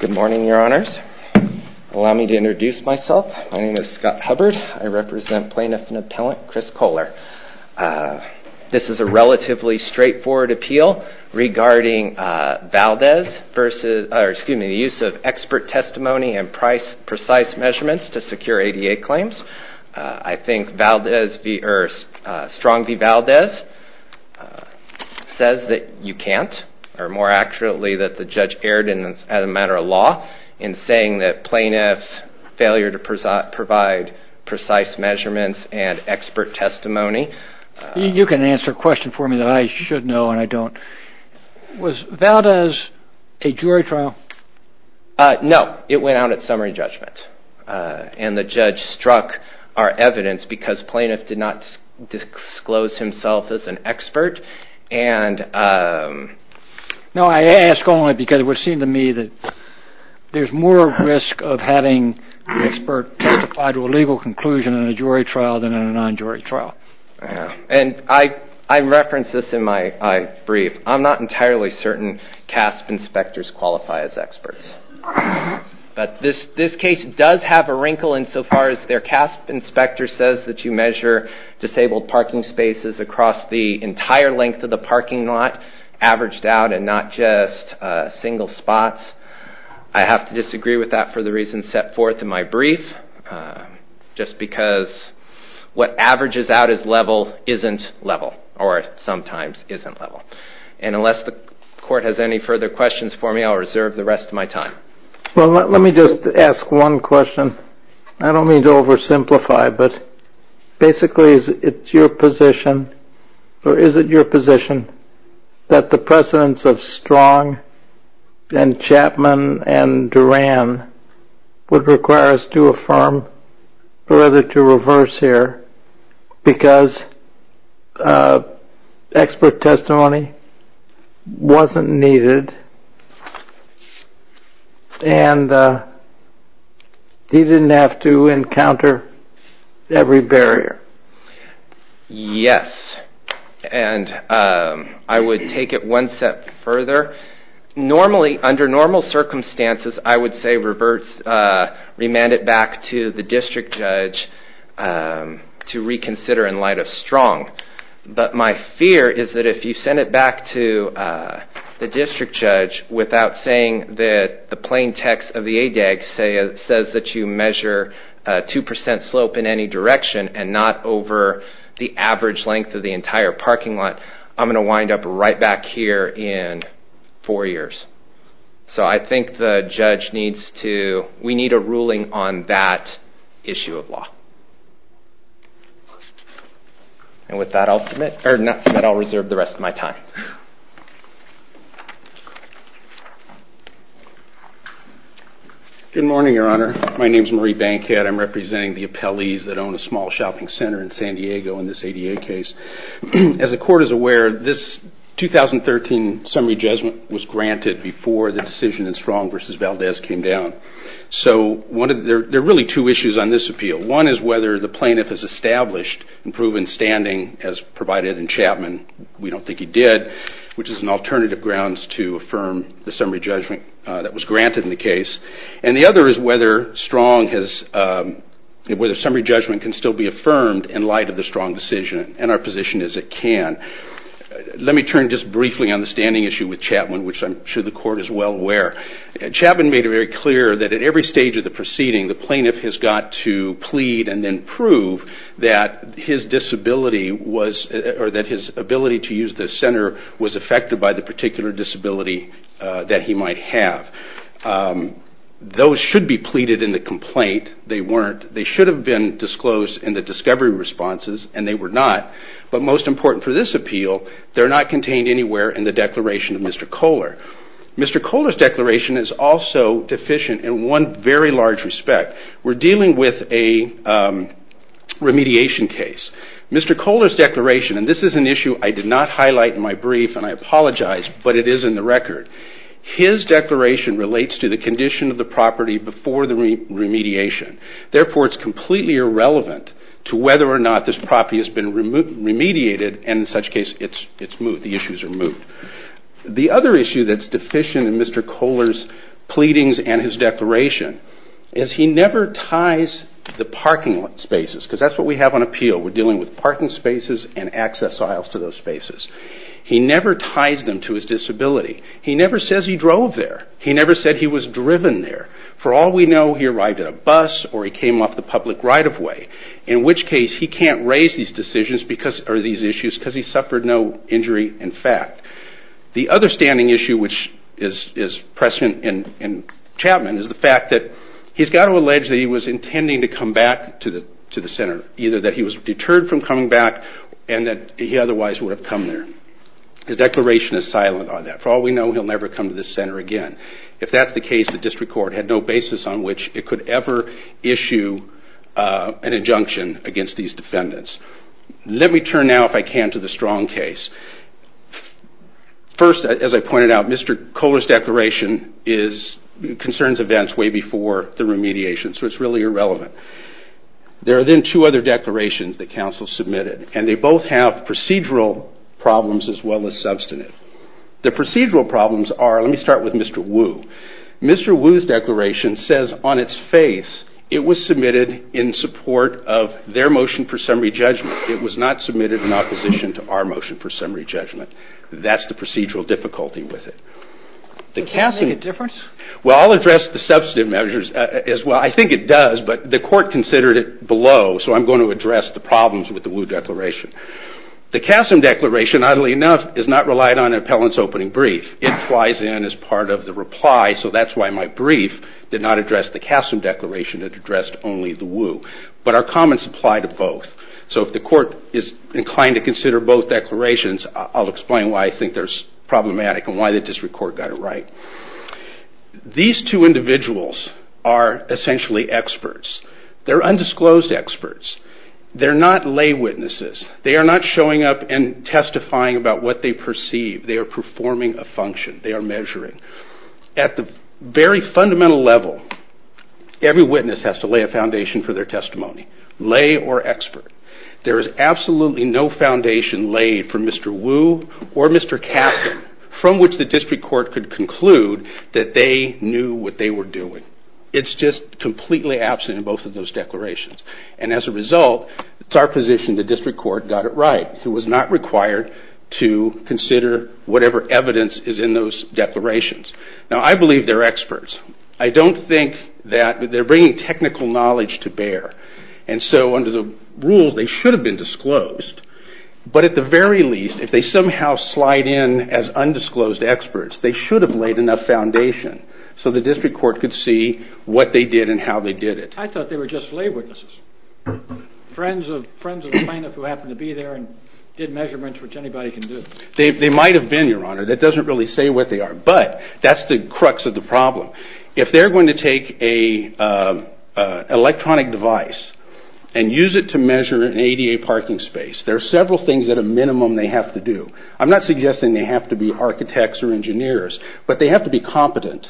Good morning, your honors. Allow me to introduce myself. My name is Scott Hubbard. I represent plaintiff and appellant Chris Kohler. This is a relatively straightforward appeal regarding Valdez versus, or excuse me, the use of expert testimony and precise measurements to secure ADA claims. I think Strong v. Valdez says that you can't, or more accurately that the judge erred as a matter of law in saying that plaintiff's failure to provide precise measurements and expert testimony. You can answer a question for me that I should know and I don't. Was Valdez a jury trial? No, it went out at summary judgment and the judge struck our evidence because plaintiff did not disclose himself as an expert. No, I ask only because it would seem to me that there's more risk of having an expert testify to a legal conclusion in a jury trial than in a non-jury trial. And I reference this in my brief. I'm not entirely certain CASP inspectors qualify as experts. But this case does have a wrinkle insofar as their CASP inspector says that you measure disabled parking spaces across the entire length of the parking lot, averaged out and not just single spots. I have to disagree with that for the reasons set forth in my brief, just because what averages out as level isn't level, or sometimes isn't level. And unless the court has any further questions for me, I'll reserve the rest of my time. Well, let me just ask one question. I don't mean to oversimplify, but basically it's your position, or is it your position, that the precedence of Strong and Chapman and Duran would require us to affirm, or rather to reverse here, because expert testimony wasn't needed and he didn't have to encounter every barrier? Yes. And I would take it one step further. Normally, under normal circumstances, I would say remand it back to the district judge to reconsider in light of Strong. But my fear is that if you send it back to the district judge without saying that the plain text of the ADAG says that you measure 2% slope in any direction and not over the average length of the entire parking lot, I'm going to wind up right back here in four years. So I think the judge needs to, we need a ruling on that issue of law. And with that I'll submit, or not submit, I'll reserve the rest of my time. Good morning, Your Honor. My name is Marie Bankhead. I'm representing the appellees that own a small shopping center in San Diego in this ADA case. As the court is aware, this 2013 summary judgment was granted before the decision in Strong v. Valdez came down. So there are really two issues on this appeal. One is whether the plaintiff has established and proven standing as provided in Chapman. We don't think he did, which is an alternative grounds to affirm the summary judgment that was granted in the case. And the other is whether Strong has, whether summary judgment can still be affirmed in light of the Strong decision. And our position is it can. Let me turn just briefly on the standing issue with Chapman, which I'm sure the court is well aware. Chapman made it very clear that at every stage of the proceeding, the plaintiff has got to plead and then prove that his disability was, or that his ability to use the center was affected by the particular disability that he might have. Those should be pleaded in the complaint. They weren't. They should have been disclosed in the discovery responses, and they were not. But most important for this appeal, they're not contained anywhere in the declaration of Mr. Kohler. Mr. Kohler's declaration is also deficient in one very large respect. We're dealing with a remediation case. Mr. Kohler's declaration, and this is an issue I did not highlight in my brief, and I apologize, but it is in the record. His declaration relates to the condition of the property before the remediation. Therefore, it's completely irrelevant to whether or not this property has been remediated, and in such a case, it's moved. The issue is removed. The other issue that's deficient in Mr. Kohler's pleadings and his declaration is he never ties the parking spaces, because that's what we have on appeal. We're dealing with parking spaces and access aisles to those spaces. He never ties them to his disability. He never says he drove there. He never said he was driven there. For all we know, he arrived at a bus or he came off the public right-of-way, in which case, he can't raise these issues because he suffered no injury in fact. The other standing issue, which is present in Chapman, is the fact that he's got to allege that he was intending to come back to the center, either that he was deterred from coming back and that he otherwise would have come there. His declaration is silent on that. For all we know, he'll never come to this center again. If that's the case, the district court had no basis on which it could ever issue an injunction against these defendants. Let me turn now, if I can, to the Strong case. First, as I pointed out, Mr. Kohler's declaration concerns events way before the remediation, so it's really irrelevant. There are then two other declarations that counsel submitted, and they both have procedural problems as well as substantive. The procedural problems are, let me start with Mr. Wu. Mr. Wu's declaration says on its face it was submitted in support of their motion for summary judgment. It was not submitted in opposition to our motion for summary judgment. That's the procedural difficulty with it. Does that make a difference? Well, I'll address the substantive measures as well. I think it does, but the court considered it below, so I'm going to address the problems with the Wu declaration. The Kasem declaration, oddly enough, is not relied on an appellant's opening brief. It flies in as part of the reply, so that's why my brief did not address the Kasem declaration. It addressed only the Wu. But our comments apply to both. So if the court is inclined to consider both declarations, I'll explain why I think they're problematic and why the district court got it right. These two individuals are essentially experts. They're undisclosed experts. They're not lay witnesses. They are not showing up and testifying about what they perceive. They are performing a function. They are measuring. At the very fundamental level, every witness has to lay a foundation for their testimony. Lay or expert. There is absolutely no foundation laid for Mr. Wu or Mr. Kasem from which the district court could conclude that they knew what they were doing. It's just completely absent in both of those declarations. And as a result, it's our position the district court got it right. It was not required to consider whatever evidence is in those declarations. Now I believe they're experts. I don't think that they're bringing technical knowledge to bear. And so under the rules, they should have been disclosed. But at the very least, if they somehow slide in as undisclosed experts, they should have laid enough foundation so the district court could see what they did and how they did it. I thought they were just lay witnesses. Friends of the plaintiff who happened to be there and did measurements which anybody can do. They might have been, Your Honor. That doesn't really say what they are. But that's the crux of the problem. If they're going to take an electronic device and use it to measure an ADA parking space, there are several things at a minimum they have to do. I'm not suggesting they have to be architects or engineers, but they have to be competent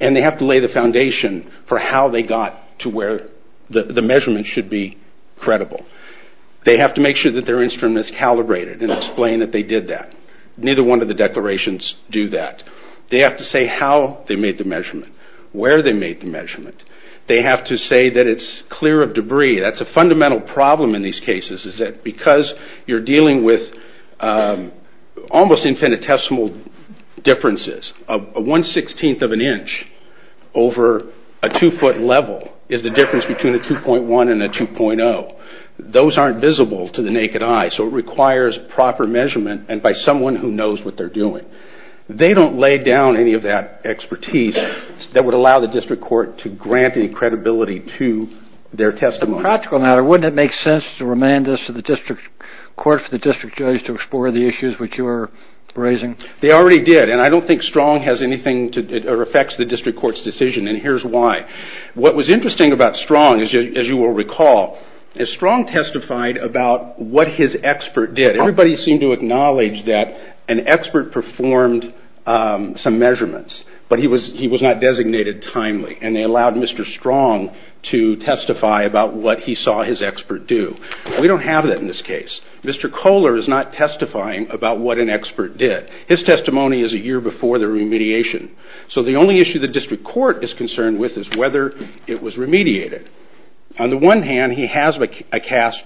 and they have to lay the foundation for how they got to where the measurements should be credible. They have to make sure that their instrument is calibrated and explain that they did that. Neither one of the declarations do that. They have to say how they made the measurement, where they made the measurement. They have to say that it's clear of debris. That's a fundamental problem in these cases is that because you're dealing with almost infinitesimal differences. A one-sixteenth of an inch over a two-foot level is the difference between a 2.1 and a 2.0. Those aren't visible to the naked eye, so it requires proper measurement and by someone who knows what they're doing. They don't lay down any of that expertise that would allow the district court to grant any credibility to their testimony. Wouldn't it make sense to remand this to the district court for the district judge to explore the issues which you're raising? They already did and I don't think Strong has anything that affects the district court's decision and here's why. What was interesting about Strong, as you will recall, is Strong testified about what his expert did. Everybody seemed to acknowledge that an expert performed some measurements, but he was not designated timely and they allowed Mr. Strong to testify about what he saw his expert do. We don't have that in this case. Mr. Kohler is not testifying about what an expert did. His testimony is a year before the remediation, so the only issue the district court is concerned with is whether it was remediated. On the one hand, he has a CASP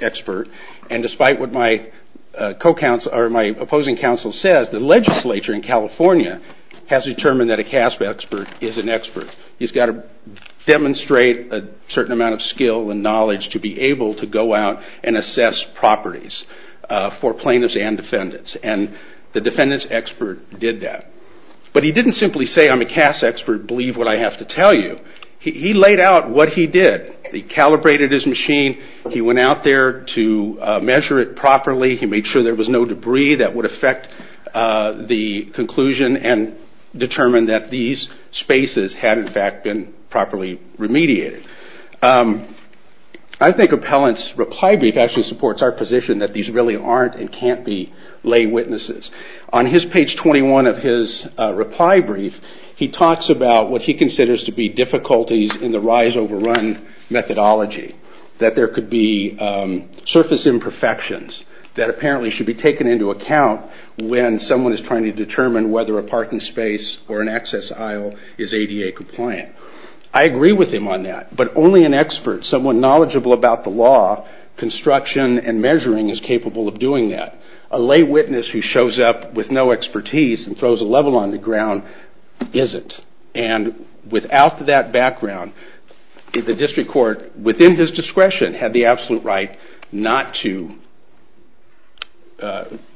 expert and despite what my opposing counsel says, the legislature in California has determined that a CASP expert is an expert. He's got to demonstrate a certain amount of skill and knowledge to be able to go out and assess properties for plaintiffs and defendants. The defendant's expert did that, but he didn't simply say, I'm a CASP expert, believe what I have to tell you. He laid out what he did. He calibrated his machine. He went out there to measure it properly. He made sure there was no debris that would affect the conclusion and determined that these spaces had in fact been properly remediated. I think Appellant's reply brief actually supports our position that these really aren't and can't be lay witnesses. On page 21 of his reply brief, he talks about what he considers to be difficulties in the rise over run methodology, that there could be surface imperfections that apparently should be taken into account when someone is trying to determine whether a parking space or an access aisle is ADA compliant. I agree with him on that, but only an expert, someone knowledgeable about the law, construction and measuring is capable of doing that. A lay witness who shows up with no expertise and throws a level on the ground isn't. And without that background, the district court, within his discretion, had the absolute right not to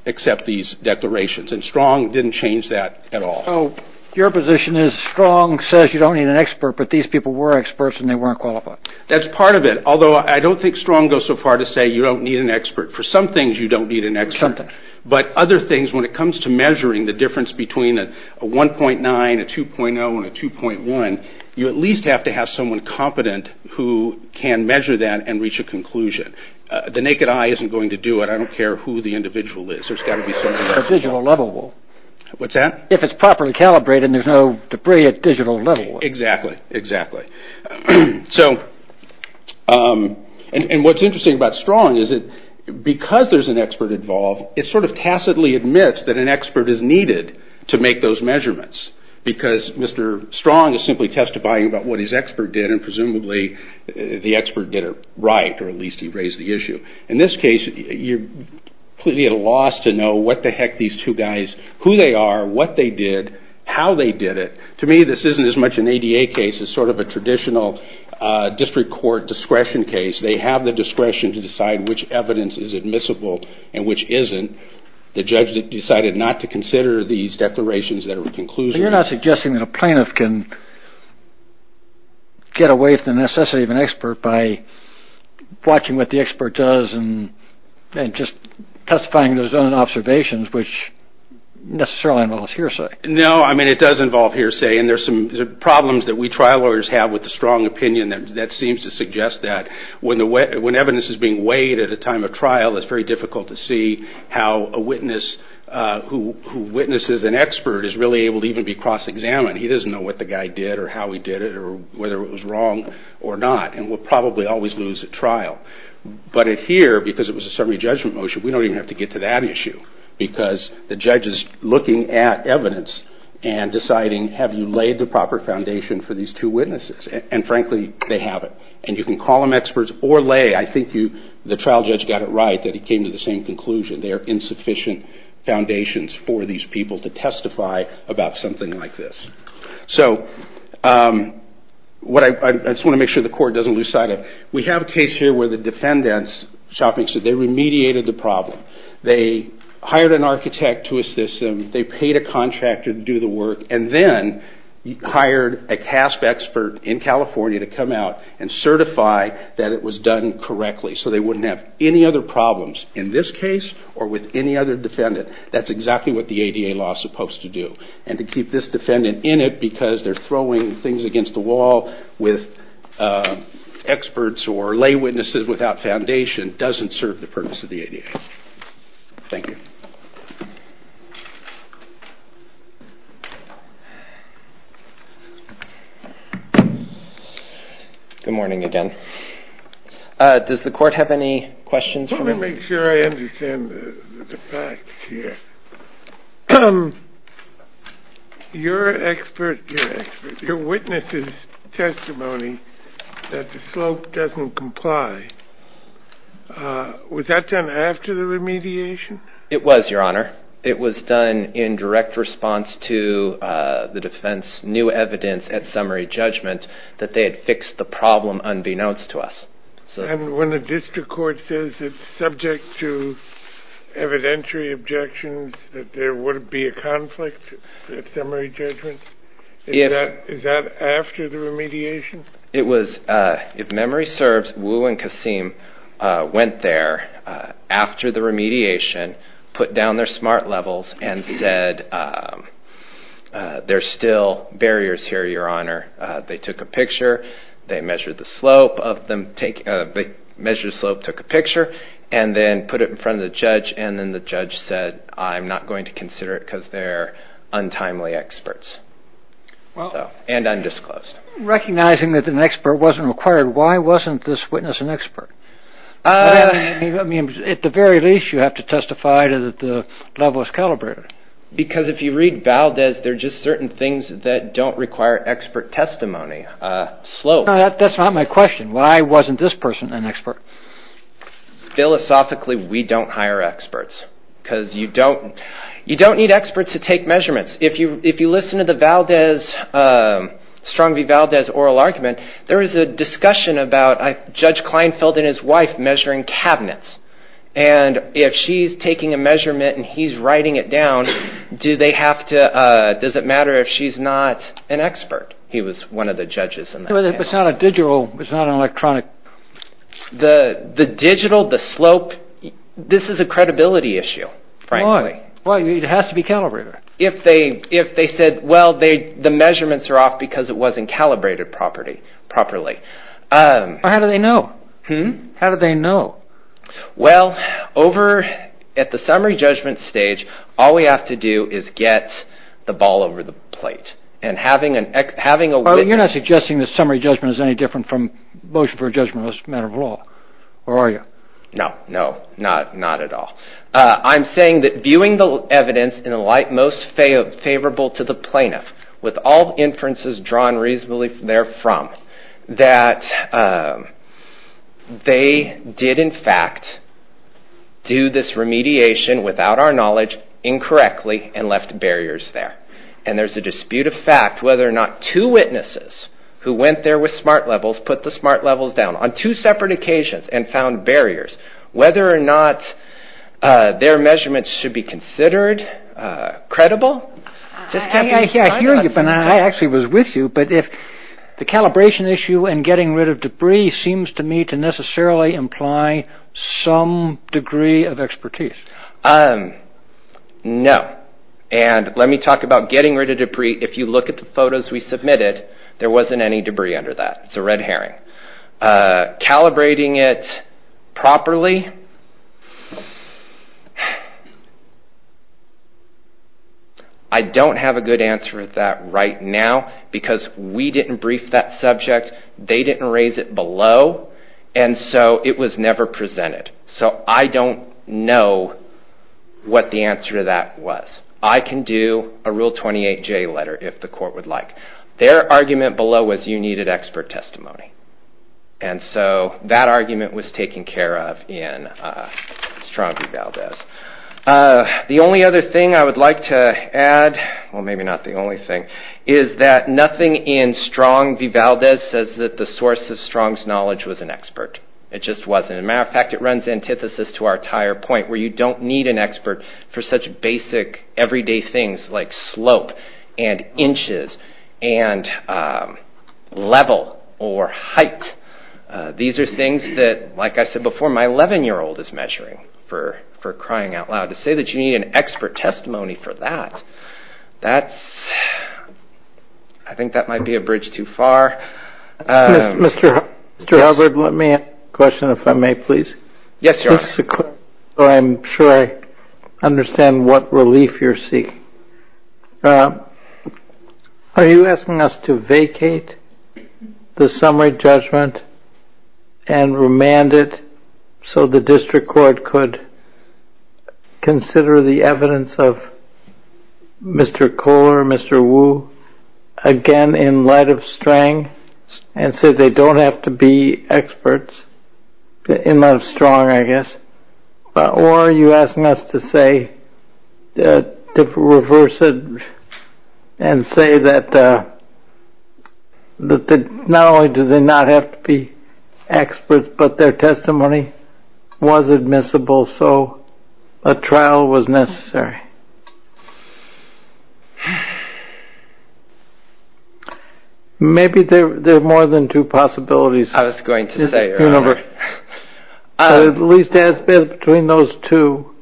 accept these declarations and Strong didn't change that at all. So your position is Strong says you don't need an expert, but these people were experts and they weren't qualified. That's part of it, although I don't think Strong goes so far as to say you don't need an expert. For some things you don't need an expert, but other things, when it comes to measuring the difference between a 1.9, a 2.0 and a 2.1, you at least have to have someone competent who can measure that and reach a conclusion. The naked eye isn't going to do it. I don't care who the individual is. It's a digital level. If it's properly calibrated and there's no debris, it's a digital level. And what's interesting about Strong is that because there's an expert involved, it sort of tacitly admits that an expert is needed to make those measurements because Mr. Strong is simply testifying about what his expert did and presumably the expert did it right or at least he raised the issue. In this case, you're completely at a loss to know what the heck these two guys, who they are, what they did, how they did it. To me, this isn't as much an ADA case as sort of a traditional district court discretion case. They have the discretion to decide which evidence is admissible and which isn't. The judge decided not to consider these declarations that are conclusions. You're not suggesting that a plaintiff can get away from the necessity of an expert by watching what the expert does and just testifying to his own observations, which necessarily involves hearsay. No, I mean it does involve hearsay and there's some problems that we trial lawyers have with the Strong opinion that seems to suggest that when evidence is being weighed at a time of trial, it's very difficult to see how a witness who witnesses an expert is really able to even be cross-examined. He doesn't know what the guy did or how he did it or whether it was wrong or not and will probably always lose at trial. But here, because it was a summary judgment motion, we don't even have to get to that issue because the judge is looking at evidence and deciding, have you laid the proper foundation for these two witnesses? And frankly, they haven't. And you can call them experts or lay. I think the trial judge got it right that he came to the same conclusion. There are insufficient foundations for these people to testify about something like this. So, I just want to make sure the court doesn't lose sight of it. We have a case here where the defendant's shopping center, they remediated the problem. They hired an architect to assist them. They paid a contractor to do the work and then hired a CASP expert in California to come out and certify that it was done correctly so they wouldn't have any other problems in this case or with any other defendant. That's exactly what the ADA law is supposed to do. And to keep this defendant in it because they're throwing things against the wall with experts or lay witnesses without foundation doesn't serve the purpose of the ADA. Thank you. Good morning again. Does the court have any questions? Let me make sure I understand the facts here. Your witness's testimony that the slope doesn't comply, was that done after the remediation? It was, Your Honor. It was done in direct response to the defense's new evidence at summary judgment that they had fixed the problem unbeknownst to us. And when the district court says it's subject to evidentiary objections that there would be a conflict at summary judgment, is that after the remediation? If memory serves, Wu and Kasim went there after the remediation, put down their SMART levels and said, there's still barriers here, Your Honor. They took a picture. They measured the slope, took a picture, and then put it in front of the judge. And then the judge said, I'm not going to consider it because they're untimely experts and undisclosed. Recognizing that an expert wasn't required, why wasn't this witness an expert? At the very least, you have to testify that the level is calibrated. Because if you read Valdez, there are just certain things that don't require expert testimony. Slope. That's not my question. Why wasn't this person an expert? Philosophically, we don't hire experts because you don't need experts to take measurements. If you listen to the Strong v. Valdez oral argument, there is a discussion about Judge Kleinfeld and his wife measuring cabinets. And if she's taking a measurement and he's writing it down, does it matter if she's not an expert? He was one of the judges. If it's not a digital, it's not an electronic. The digital, the slope, this is a credibility issue, frankly. Why? It has to be calibrated. If they said, well, the measurements are off because it wasn't calibrated properly. How do they know? Well, over at the summary judgment stage, all we have to do is get the ball over the plate. You're not suggesting that summary judgment is any different from motion for judgment as a matter of law, are you? No, not at all. I'm saying that viewing the evidence in a light most favorable to the plaintiff, with all inferences drawn reasonably therefrom, that they did, in fact, do this remediation without our knowledge, incorrectly, and left barriers there. And there's a dispute of fact whether or not two witnesses who went there with smart levels put the smart levels down on two separate occasions and found barriers, whether or not their measurements should be considered credible. I hear you, but I actually was with you. But if the calibration issue and getting rid of debris seems to me to necessarily imply some degree of expertise. No. And let me talk about getting rid of debris. If you look at the photos we submitted, there wasn't any debris under that. It's a red herring. Calibrating it properly, I don't have a good answer for that right now because we didn't brief that subject. They didn't raise it below, and so it was never presented. So I don't know what the answer to that was. I can do a Rule 28J letter if the court would like. Their argument below was you needed expert testimony. And so that argument was taken care of in Strong v. Valdez. The only other thing I would like to add, or maybe not the only thing, is that nothing in Strong v. Valdez says that the source of Strong's knowledge was an expert. It just wasn't. As a matter of fact, it runs antithesis to our entire point where you don't need an expert for such basic, everyday things like slope and inches and level or height. These are things that, like I said before, my 11-year-old is measuring, for crying out loud. To say that you need an expert testimony for that, I think that might be a bridge too far. Mr. Halberd, let me ask a question, if I may, please. Yes, Your Honor. I'm sure I understand what relief you're seeking. Are you asking us to vacate the summary judgment and remand it so the district court could consider the evidence of Mr. Kohler, Mr. Wu, again in light of Strang, and say they don't have to be experts in light of Strong, I guess? Or are you asking us to reverse it and say that not only do they not have to be experts, but their testimony was admissible, so a trial was necessary? Maybe there are more than two possibilities. I was going to say, Your Honor. At least as between those two,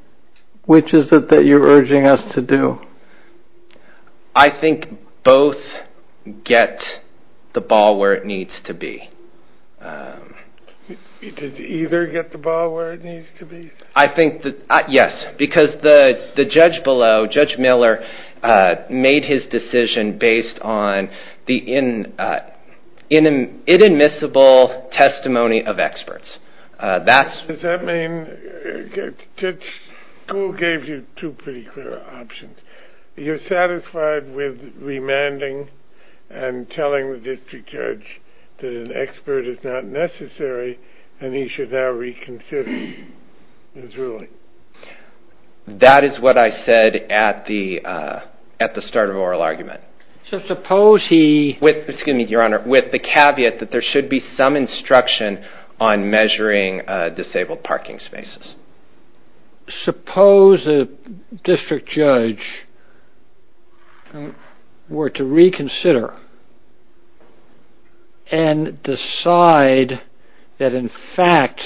which is it that you're urging us to do? I think both get the ball where it needs to be. Did either get the ball where it needs to be? I think that, yes, because the judge below, Judge Miller, made his decision based on the inadmissible testimony of experts. Does that mean, Judge Kohler gave you two pretty clear options. You're satisfied with remanding and telling the district judge that an expert is not necessary and he should now reconsider his ruling? That is what I said at the start of oral argument. So suppose he... Excuse me, Your Honor. With the caveat that there should be some instruction on measuring disabled parking spaces. Suppose a district judge were to reconsider and decide that, in fact,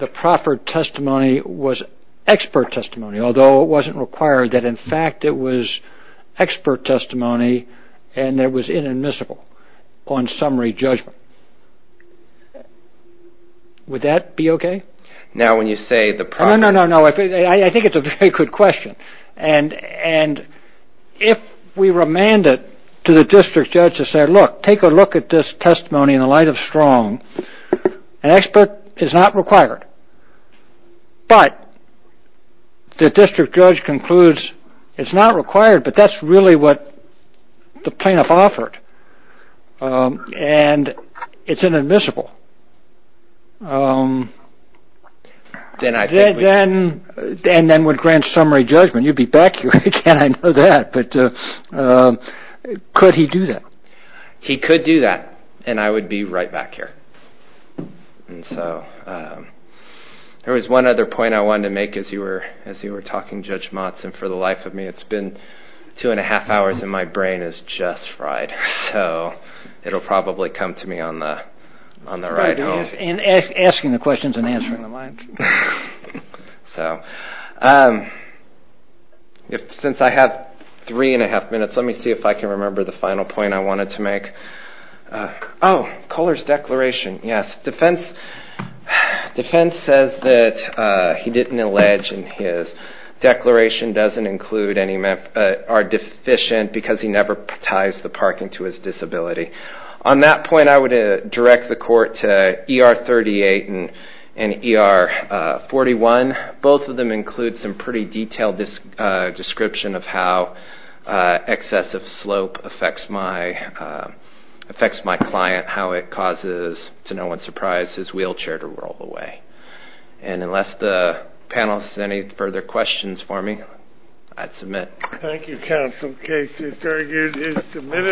the proper testimony was expert testimony, although it wasn't required that, in fact, it was expert testimony and it was inadmissible on summary judgment. Would that be okay? Now, when you say the proper... No, no, no, no. I think it's a very good question. And if we remand it to the district judge to say, look, take a look at this testimony in the light of Strong. An expert is not required. But the district judge concludes it's not required, but that's really what the plaintiff offered. And it's inadmissible. Then I think we... And then would grant summary judgment. You'd be back here again. I know that. But could he do that? He could do that, and I would be right back here. And so there was one other point I wanted to make as you were talking, Judge Motsen, for the life of me. It's been two and a half hours, and my brain is just fried. So it'll probably come to me on the ride home. And asking the questions and answering them. So since I have three and a half minutes, let me see if I can remember the final point I wanted to make. Oh, Kohler's declaration. Yes, defense says that he didn't allege in his declaration doesn't include any... are deficient because he never ties the parking to his disability. On that point, I would direct the court to ER 38 and ER 41. Both of them include some pretty detailed description of how excessive slope affects my client, how it causes, to no one's surprise, his wheelchair to roll away. And unless the panel has any further questions for me, I'd submit. Thank you, counsel. The case is very good. It's submitted.